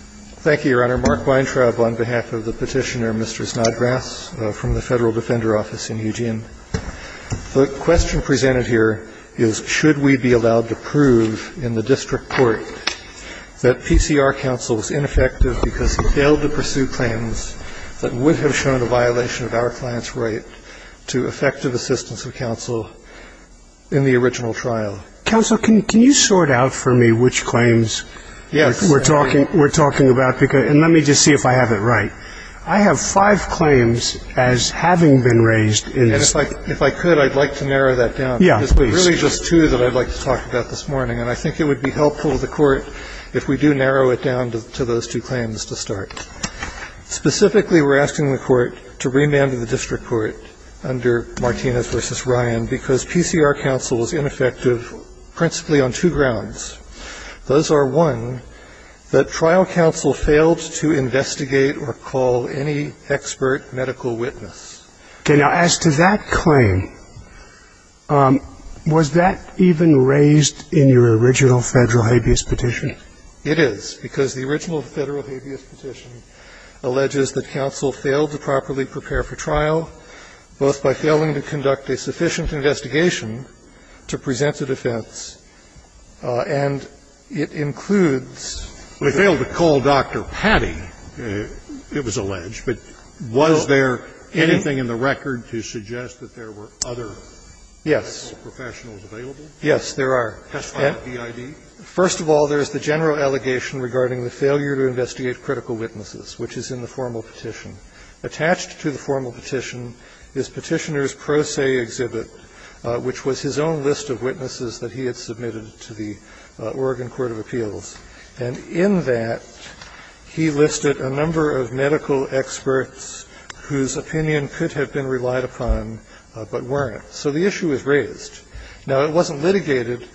Thank you, Your Honor. Mark Weintraub on behalf of the petitioner, Mr. Snodgrass, from the Federal Defender Office in Eugene. The question presented here is, should we be allowed to prove in the district court that PCR counsel was ineffective because he failed to pursue claims that would have shown a violation of our client's right to effective assistance of counsel in the original trial? Counsel, can you sort out for me which claims we're talking about, and let me just see if I have it right. I have five claims as having been raised in this case. And if I could, I'd like to narrow that down. Yeah, please. There's really just two that I'd like to talk about this morning, and I think it would be helpful to the Court if we do narrow it down to those two claims to start. Specifically, we're asking the Court to remand the district court under Martinez v. Ryan because PCR counsel was ineffective principally on two grounds. Those are, one, that trial counsel failed to investigate or call any expert medical witness. Okay. Now, as to that claim, was that even raised in your original Federal habeas petition? It is. Because the original Federal habeas petition alleges that counsel failed to properly prepare for trial, both by failing to conduct a sufficient investigation to present a defense, and it includes the fact that counsel failed to call Dr. Patti, it was alleged. But was there anything in the record to suggest that there were other medical professionals available? Yes, there are. Testify to DID? First of all, there is the general allegation regarding the failure to investigate critical witnesses, which is in the formal petition. Attached to the formal petition is Petitioner's Pro Se Exhibit, which was his own list of witnesses that he had submitted to the Oregon Court of Appeals. And in that, he listed a number of medical experts whose opinion could have been relied upon but weren't. So the issue is raised. Now, it wasn't litigated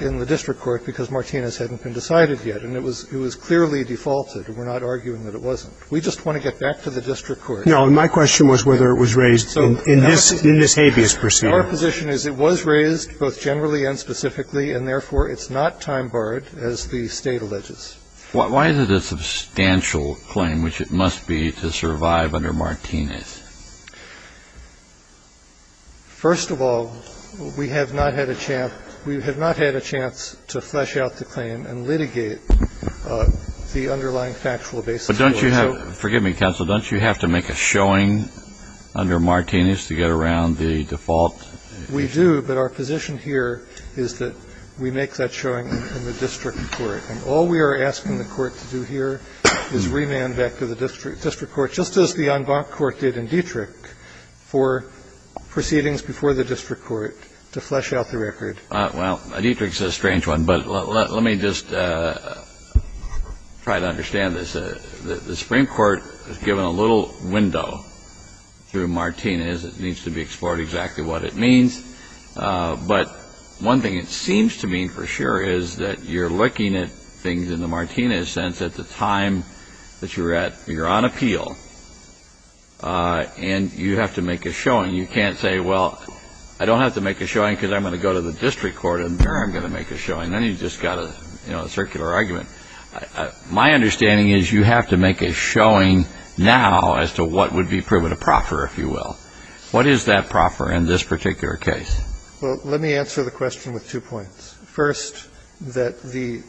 in the district court because Martinez hadn't been decided yet, and it was clearly defaulted. We're not arguing that it wasn't. We just want to get back to the district court. No, my question was whether it was raised in this habeas proceeding. Our position is it was raised, both generally and specifically, and therefore it's not time-barred, as the State alleges. Why is it a substantial claim, which it must be, to survive under Martinez? First of all, we have not had a chance to flesh out the claim and litigate the underlying factual basis for it. But don't you have to make a showing under Martinez to get around the default? We do, but our position here is that we make that showing in the district court. And all we are asking the court to do here is remand back to the district court, just as the en banc court did in Dietrich, for proceedings before the district court to flesh out the record. Well, Dietrich is a strange one, but let me just try to understand this. The Supreme Court has given a little window through Martinez. It needs to be explored exactly what it means. But one thing it seems to mean for sure is that you're looking at things in the Martinez sense at the time that you're at, you're on appeal, and you have to make a showing. You can't say, well, I don't have to make a showing because I'm going to go to the district court and there I'm going to make a showing. Then you've just got a, you know, a circular argument. My understanding is you have to make a showing now as to what would be proven to proffer, if you will. What is that proffer in this particular case? Well, let me answer the question with two points. First, that the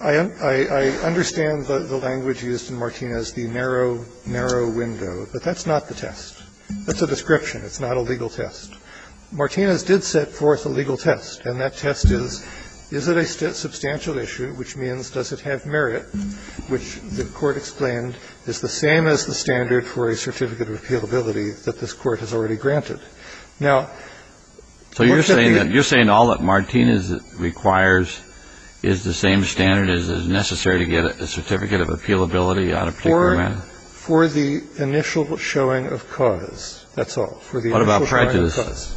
‑‑ I understand the language used in Martinez, the narrow, narrow window, but that's not the test. That's a description. It's not a legal test. Martinez did set forth a legal test, and that test is, is it a substantial issue, which means does it have merit, which the Court explained is the same as the standard for a certificate of appealability that this Court has already granted. Now ‑‑ So you're saying that, you're saying all that Martinez requires is the same standard as is necessary to get a certificate of appealability on a particular matter? For the initial showing of cause, that's all. For the initial showing of cause. What about prejudice?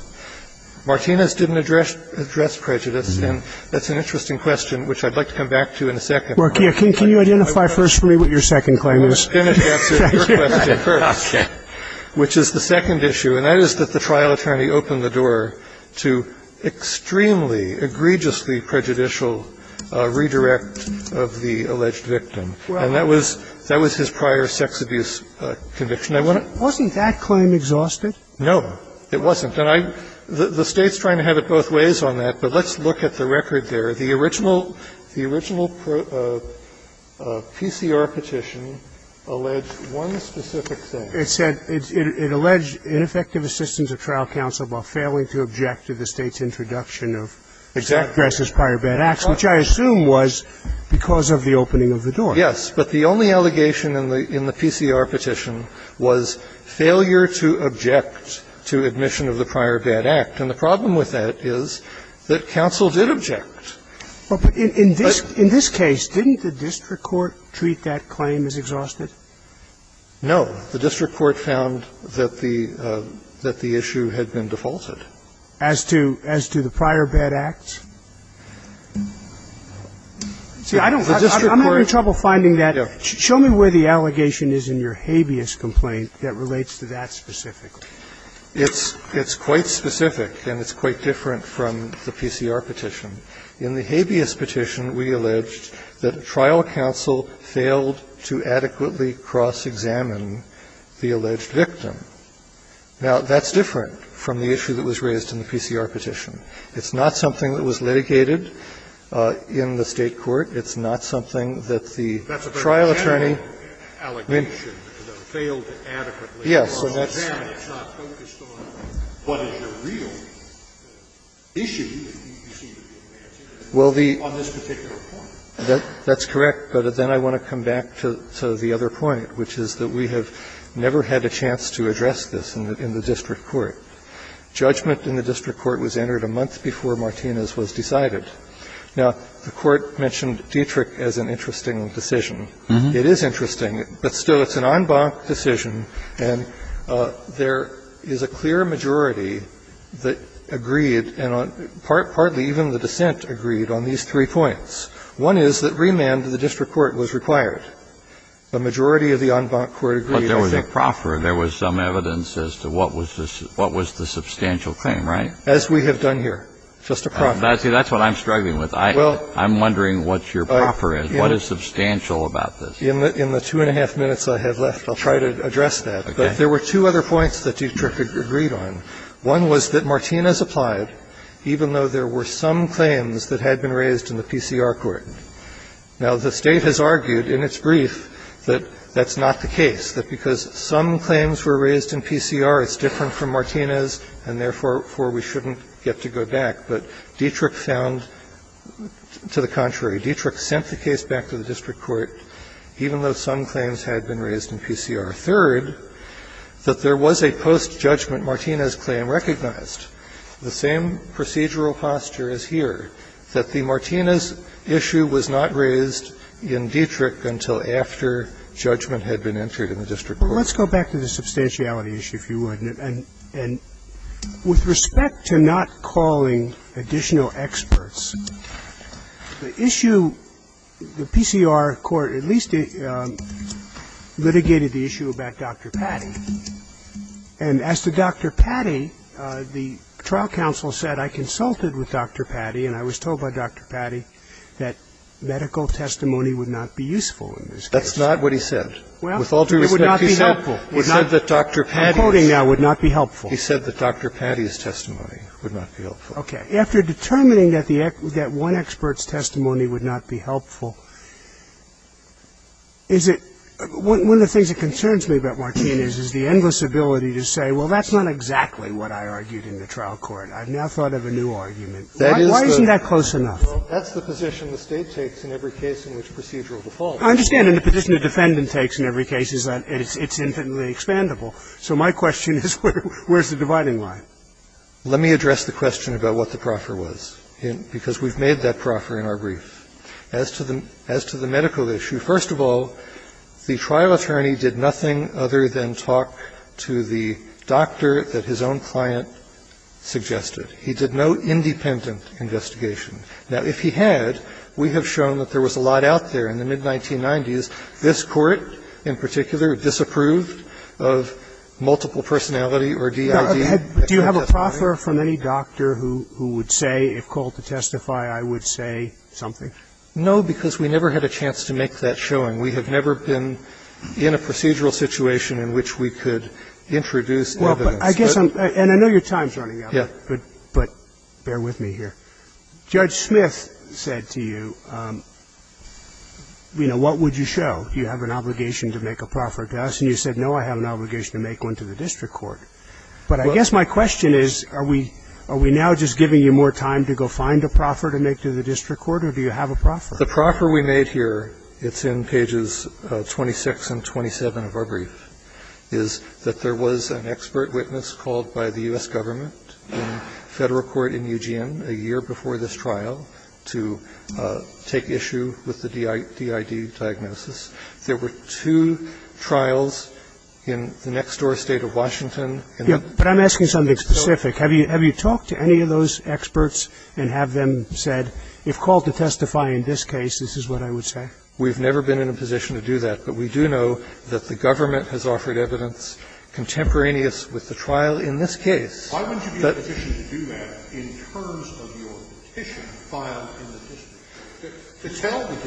Martinez didn't address prejudice, and that's an interesting question, which I'd like to come back to in a second. Mark, can you identify first for me what your second claim is? I'm going to finish answering your question first. Okay. Which is the second issue, and that is that the trial attorney opened the door to extremely, egregiously prejudicial redirect of the alleged victim. And that was, that was his prior sex abuse conviction. I want to ‑‑ Wasn't that claim exhausted? No, it wasn't. And I, the State's trying to have it both ways on that, but let's look at the record there. The original, the original PCR petition alleged one specific thing. It said it alleged ineffective assistance of trial counsel while failing to object to the State's introduction of ‑‑ Exactly. ‑‑exact addresses prior bad acts, which I assume was because of the opening of the door. Yes. But the only allegation in the PCR petition was failure to object to admission of the prior bad act. And the problem with that is that counsel did object. But in this case, didn't the district court treat that claim as exhausted? No. The district court found that the, that the issue had been defaulted. As to, as to the prior bad acts? See, I don't, I'm having trouble finding that. Yeah. Show me where the allegation is in your habeas complaint that relates to that specifically. It's, it's quite specific, and it's quite different from the PCR petition. In the habeas petition, we alleged that trial counsel failed to adequately cross-examine the alleged victim. Now, that's different from the issue that was raised in the PCR petition. It's not something that was litigated in the State court. It's not something that the trial attorney ‑‑ That's a very general allegation that failed to adequately cross‑examine. Well, that's correct, but then I want to come back to the other point, which is that we have never had a chance to address this in the district court. Judgment in the district court was entered a month before Martinez was decided. Now, the court mentioned Dietrich as an interesting decision. It is interesting, but still, it's an en banc decision, and it's an en banc decision in the sense that there is a clear majority that agreed, and partly even the dissent agreed on these three points. One is that remand to the district court was required. The majority of the en banc court agreed. But there was a proffer. There was some evidence as to what was the substantial thing, right? As we have done here. Just a proffer. See, that's what I'm struggling with. I'm wondering what your proffer is. What is substantial about this? In the two and a half minutes I have left, I'll try to address that. But there were two other points that Dietrich agreed on. One was that Martinez applied, even though there were some claims that had been raised in the PCR court. Now, the State has argued in its brief that that's not the case, that because some claims were raised in PCR, it's different from Martinez, and therefore we shouldn't get to go back. But Dietrich found to the contrary. Dietrich sent the case back to the district court, even though some claims had been raised in PCR. Third, that there was a post-judgment Martinez claim recognized, the same procedural posture as here, that the Martinez issue was not raised in Dietrich until after judgment had been entered in the district court. Let's go back to the substantiality issue, if you would. And with respect to not calling additional experts, the issue, the PCR court at least did not call additional experts. They did not call additional experts. They litigated the issue about Dr. Patty. And as to Dr. Patty, the trial counsel said, I consulted with Dr. Patty and I was told by Dr. Patty that medical testimony would not be useful in this case. That's not what he said. With all due respect, he said that Dr. Patty's. I'm quoting now, would not be helpful. He said that Dr. Patty's testimony would not be helpful. Okay. After determining that the one expert's testimony would not be helpful, is it one of the things that concerns me about Martinez is the endless ability to say, well, that's not exactly what I argued in the trial court. I've now thought of a new argument. Why isn't that close enough? That's the position the State takes in every case in which procedural default occurs. I understand. And the position the defendant takes in every case is that it's infinitely expandable. So my question is, where's the dividing line? Let me address the question about what the proffer was, because we've made that proffer in our brief. As to the medical issue, first of all, the trial attorney did nothing other than talk to the doctor that his own client suggested. He did no independent investigation. Now, if he had, we have shown that there was a lot out there in the mid-1990s. This Court, in particular, disapproved of multiple personality or DID. Do you have a proffer from any doctor who would say, if called to testify, I would say something? No, because we never had a chance to make that showing. We have never been in a procedural situation in which we could introduce evidence. Well, but I guess I'm – and I know your time's running out. Yeah. But bear with me here. Judge Smith said to you, you know, what would you show? Do you have an obligation to make a proffer to us? And you said, no, I have an obligation to make one to the district court. But I guess my question is, are we now just giving you more time to go find a proffer to make to the district court, or do you have a proffer? The proffer we made here, it's in pages 26 and 27 of our brief, is that there was an expert witness called by the U.S. Government in Federal Court in Eugene a year before this trial to take issue with the DID diagnosis. There were two trials in the next-door State of Washington. But I'm asking something specific. Have you talked to any of those experts and have them said, if called to testify in this case, this is what I would say? We've never been in a position to do that. But we do know that the government has offered evidence contemporaneous with the trial in this case. But the court said, no, I have an obligation to make a proffer to the district court, but I guess my question is, are we now just giving you more time to go find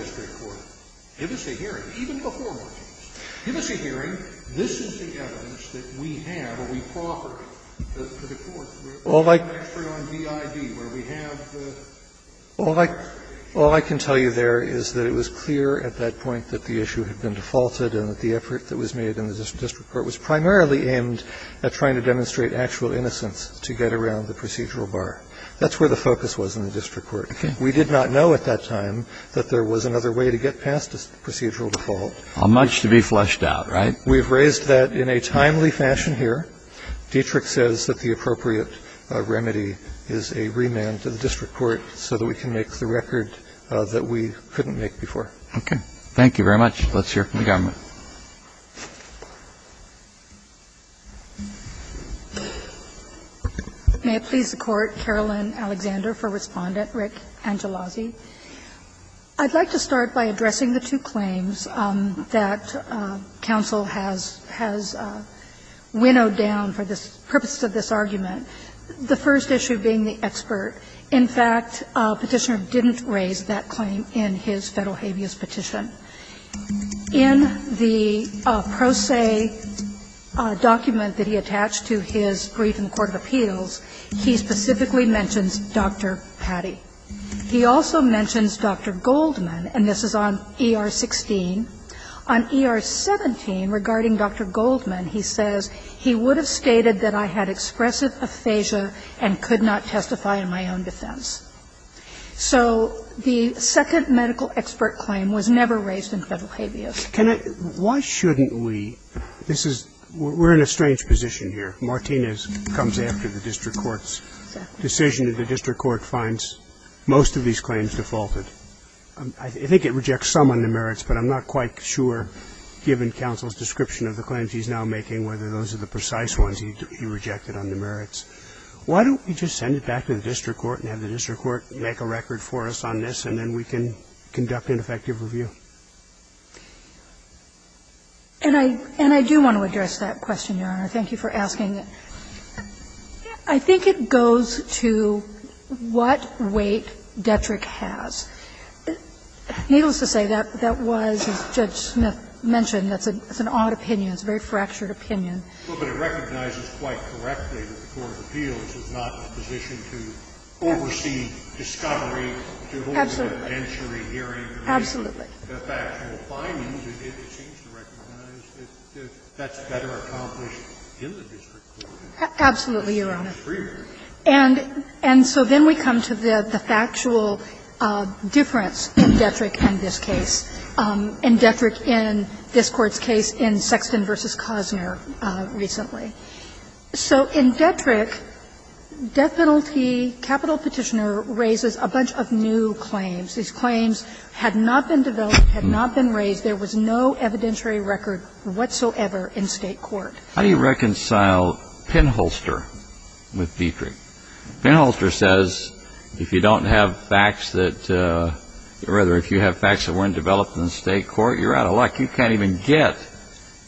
court? That's where the focus was in the district court. We did not know at that time that there was another way to get past a procedural default. Much to be flushed out, right? We've raised that in a timely fashion here. Dietrich says that the appropriate remedy is a remand to the district court so that we can make the record that we couldn't make before. Okay. Thank you very much. Let's hear from the government. May it please the Court. Carolyn Alexander for Respondent. Rick Angelozzi. I'd like to start by addressing the two claims that counsel has winnowed down for the purpose of this argument, the first issue being the expert. In fact, Petitioner didn't raise that claim in his Federal habeas petition. In the pro se document that he attached to his brief in the court of appeals, he specifically mentions Dr. Patti. He also mentions Dr. Goldman, and this is on ER-16. On ER-17, regarding Dr. Goldman, he says, He would have stated that I had expressive aphasia and could not testify in my own defense. So the second medical expert claim was never raised in Federal habeas. Why shouldn't we? This is we're in a strange position here. Martinez comes after the district court's decision that the district court finds most of these claims defaulted. I think it rejects some on the merits, but I'm not quite sure, given counsel's now making whether those are the precise ones he rejected on the merits, why don't we just send it back to the district court and have the district court make a record for us on this, and then we can conduct an effective review? And I do want to address that question, Your Honor. Thank you for asking. I think it goes to what weight Detrick has. Needless to say, that was, as Judge Smith mentioned, that's an odd opinion. It's a very fractured opinion. Absolutely, Your Honor. And so then we come to the factual difference in Detrick and this case. In Detrick and this Court's case in Sexton v. Cosner recently. So in Detrick, death penalty capital petitioner raises a bunch of new claims. These claims had not been developed, had not been raised. There was no evidentiary record whatsoever in State court. How do you reconcile Penholster with Detrick? Penholster says if you don't have facts that or rather if you have facts that weren't developed in State court, you're out of luck. You can't even get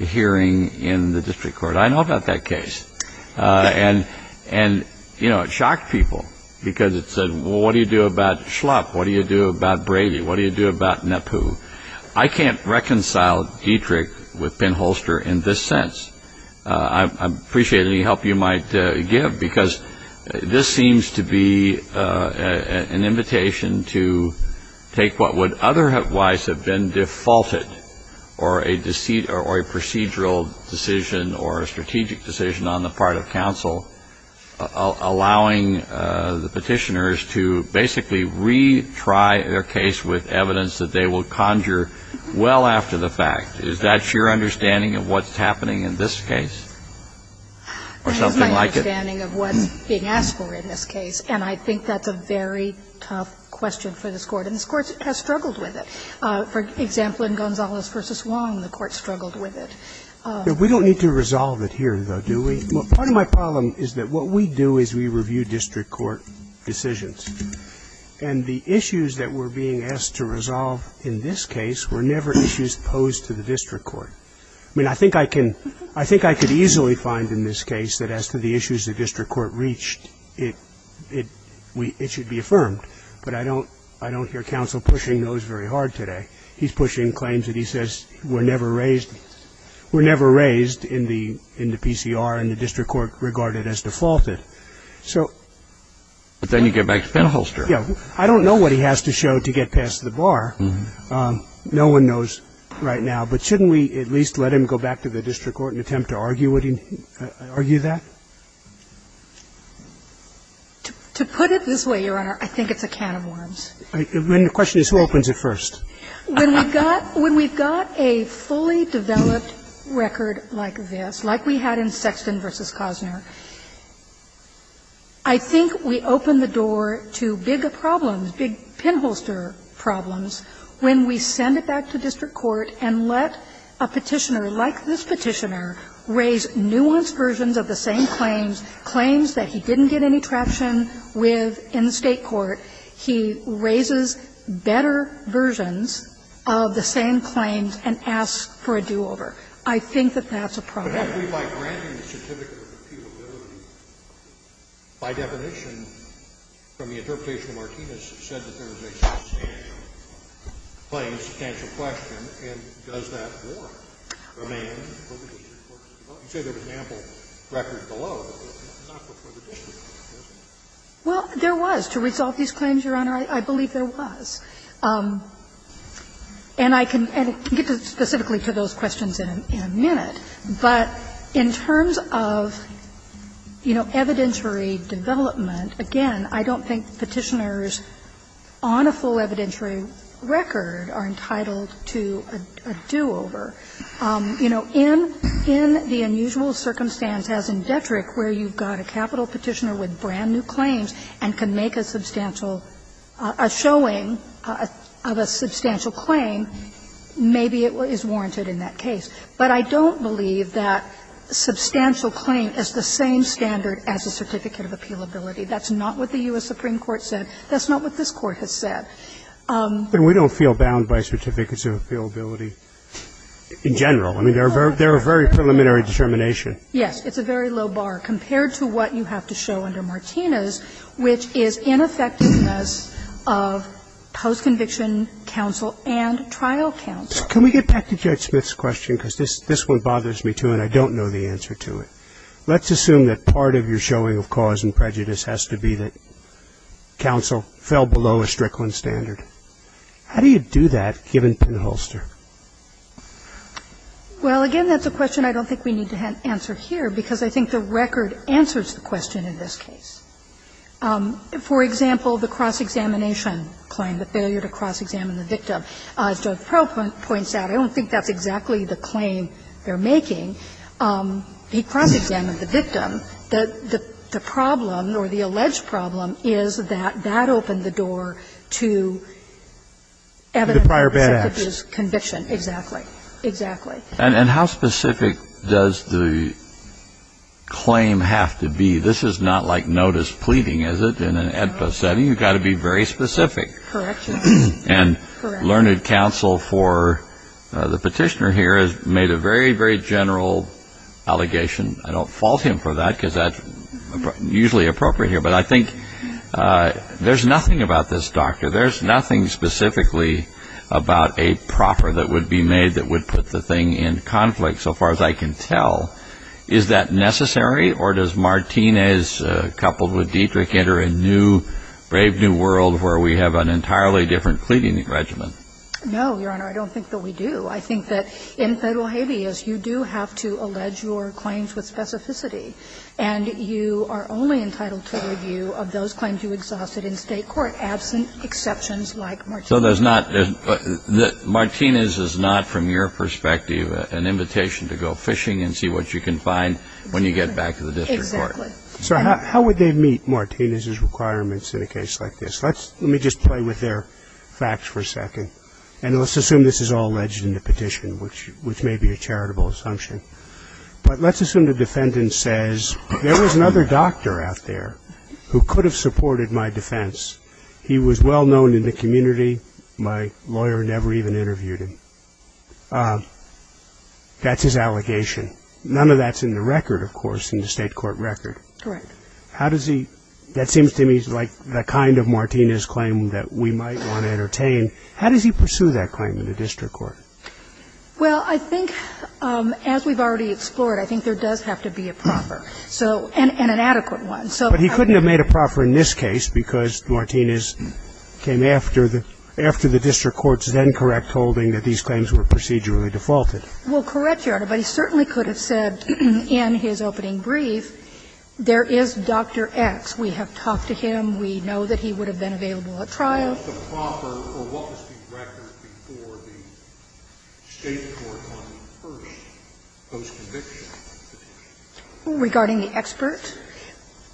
a hearing in the district court. I know about that case. And, you know, it shocked people because it said, well, what do you do about Schlupf? What do you do about Brady? What do you do about Nepu? I can't reconcile Detrick with Penholster in this sense. I appreciate any help you might give because this seems to be an invitation to take what would otherwise have been defaulted or a procedural decision or a strategic decision on the part of counsel, allowing the petitioners to basically retry their case with evidence that they will conjure well after the fact. Is that your understanding of what's happening in this case or something like it? That is my understanding of what's being asked for in this case, and I think that's a very tough question for this Court. And this Court has struggled with it. For example, in Gonzalez v. Wong, the Court struggled with it. We don't need to resolve it here, though, do we? Part of my problem is that what we do is we review district court decisions. And the issues that we're being asked to resolve in this case were never issues posed to the district court. I mean, I think I can – I think I could easily find in this case that as to the issues the district court reached, it should be affirmed. But I don't hear counsel pushing those very hard today. He's pushing claims that he says were never raised in the PCR and the district court regarded as defaulted. So – But then you get back to Penholster. Yeah. I don't know what he has to show to get past the bar. No one knows right now. But shouldn't we at least let him go back to the district court and attempt to argue that? To put it this way, Your Honor, I think it's a can of worms. When the question is who opens it first. When we've got – when we've got a fully developed record like this, like we had in Sexton v. Cosner, I think we open the door to bigger problems, big Penholster problems, when we send it back to district court and let a Petitioner, like this claims that he didn't get any traction with in the State court, he raises better versions of the same claims and asks for a do-over. I think that that's a problem. Well, there was. To resolve these claims, Your Honor, I believe there was. And I can get specifically to those questions in a minute. But in terms of, you know, evidentiary development, again, I don't think Petitioners on a full evidentiary record are entitled to a do-over. You know, in the unusual circumstance as in Detrick where you've got a capital claim and you've got a Petitioner with brand-new claims and can make a substantial – a showing of a substantial claim, maybe it is warranted in that case. But I don't believe that substantial claim is the same standard as a certificate of appealability. That's not what the U.S. Supreme Court said. That's not what this Court has said. But we don't feel bound by certificates of appealability in general. I mean, they're a very preliminary determination. Yes. It's a very low bar compared to what you have to show under Martinez, which is ineffectiveness of post-conviction counsel and trial counsel. Can we get back to Judge Smith's question? Because this one bothers me, too, and I don't know the answer to it. Let's assume that part of your showing of cause and prejudice has to be that counsel fell below a Strickland standard. How do you do that, given Penholster? Well, again, that's a question I don't think we need to answer here, because I think the record answers the question in this case. For example, the cross-examination claim, the failure to cross-examine the victim. As Judge Proulx points out, I don't think that's exactly the claim they're making. He cross-examined the victim. The problem, or the alleged problem, is that that opened the door to evidence that it is conviction. The prior bad acts. Exactly. Exactly. And how specific does the claim have to be? This is not like notice pleading, is it, in an AEDPA setting. You've got to be very specific. Correction. And learned counsel for the Petitioner here has made a very, very general allegation I don't fault him for that, because that's usually appropriate here. But I think there's nothing about this, Doctor. There's nothing specifically about a proffer that would be made that would put the thing in conflict, so far as I can tell. Is that necessary, or does Martinez, coupled with Dietrich, enter a new, brave new world where we have an entirely different pleading regimen? No, Your Honor, I don't think that we do. I think that in Federal habeas, you do have to allege your claims with specificity, and you are only entitled to a review of those claims you exhausted in State court absent exceptions like Martinez. So there's not the – Martinez is not, from your perspective, an invitation to go fishing and see what you can find when you get back to the district court. Exactly. So how would they meet Martinez's requirements in a case like this? Let's – let me just play with their facts for a second. And let's assume this is all alleged in the petition, which may be a charitable assumption. But let's assume the defendant says, there was another doctor out there who could have supported my defense. He was well known in the community. My lawyer never even interviewed him. That's his allegation. None of that's in the record, of course, in the State court record. Correct. How does he – that seems to me like the kind of Martinez claim that we might want to entertain. How does he pursue that claim in the district court? Well, I think, as we've already explored, I think there does have to be a proffer. So – and an adequate one. But he couldn't have made a proffer in this case because Martinez came after the – after the district court's then-correct holding that these claims were procedurally defaulted. Well, correct, Your Honor. But he certainly could have said in his opening brief, there is Dr. X. We have talked to him. We know that he would have been available at trial. So what was the proffer, or what was the record before the State court on the first post-conviction petition? Regarding the expert?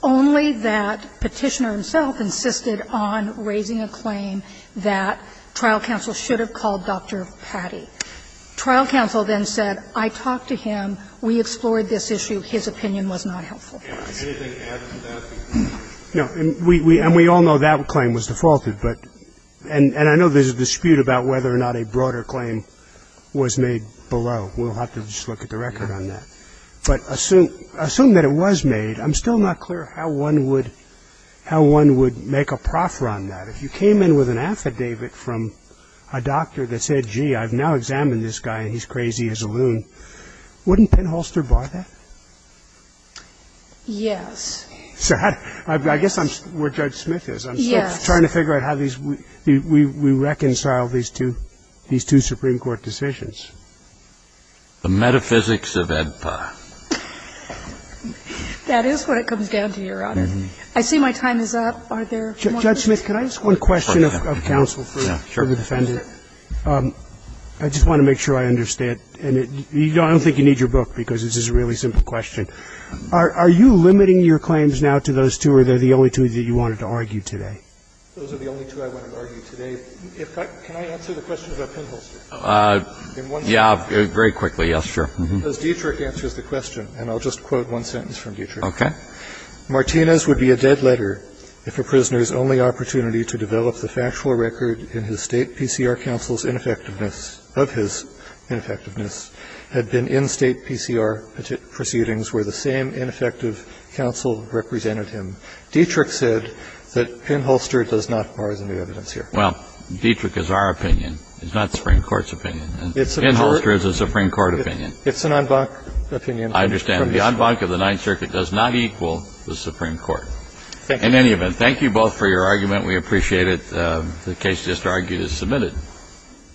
Only that Petitioner himself insisted on raising a claim that trial counsel should have called Dr. Patty. Trial counsel then said, I talked to him. We explored this issue. His opinion was not helpful. Anything to add to that? No. And we all know that claim was defaulted. But – and I know there's a dispute about whether or not a broader claim was made below. We'll have to just look at the record on that. But assume that it was made, I'm still not clear how one would – how one would make a proffer on that. If you came in with an affidavit from a doctor that said, gee, I've now examined this guy and he's crazy, he's a loon, wouldn't Penholster bar that? Yes. I guess I'm where Judge Smith is. Yes. I'm still trying to figure out how these – we reconcile these two – these two Supreme Court decisions. The metaphysics of AEDPA. That is what it comes down to, Your Honor. I see my time is up. Are there more questions? Judge Smith, can I ask one question of counsel for the defendant? Yeah, sure. I just want to make sure I understand. I don't think you need your book because this is a really simple question. Are you limiting your claims now to those two or are they the only two that you wanted to argue today? Those are the only two I wanted to argue today. Can I answer the question about Penholster? Yeah, very quickly. Yes, sure. As Dietrich answers the question, and I'll just quote one sentence from Dietrich. Okay. Martinez would be a dead letter if a prisoner's only opportunity to develop the factual record in his State PCR counsel's ineffectiveness – of his ineffectiveness had been in State PCR proceedings where the same ineffective counsel represented him. Dietrich said that Penholster does not borrow the new evidence here. Well, Dietrich is our opinion. It's not the Supreme Court's opinion. Penholster is a Supreme Court opinion. It's an en banc opinion. I understand. The en banc of the Ninth Circuit does not equal the Supreme Court. Thank you. In any event, thank you both for your argument. We appreciate it. The case just argued is submitted.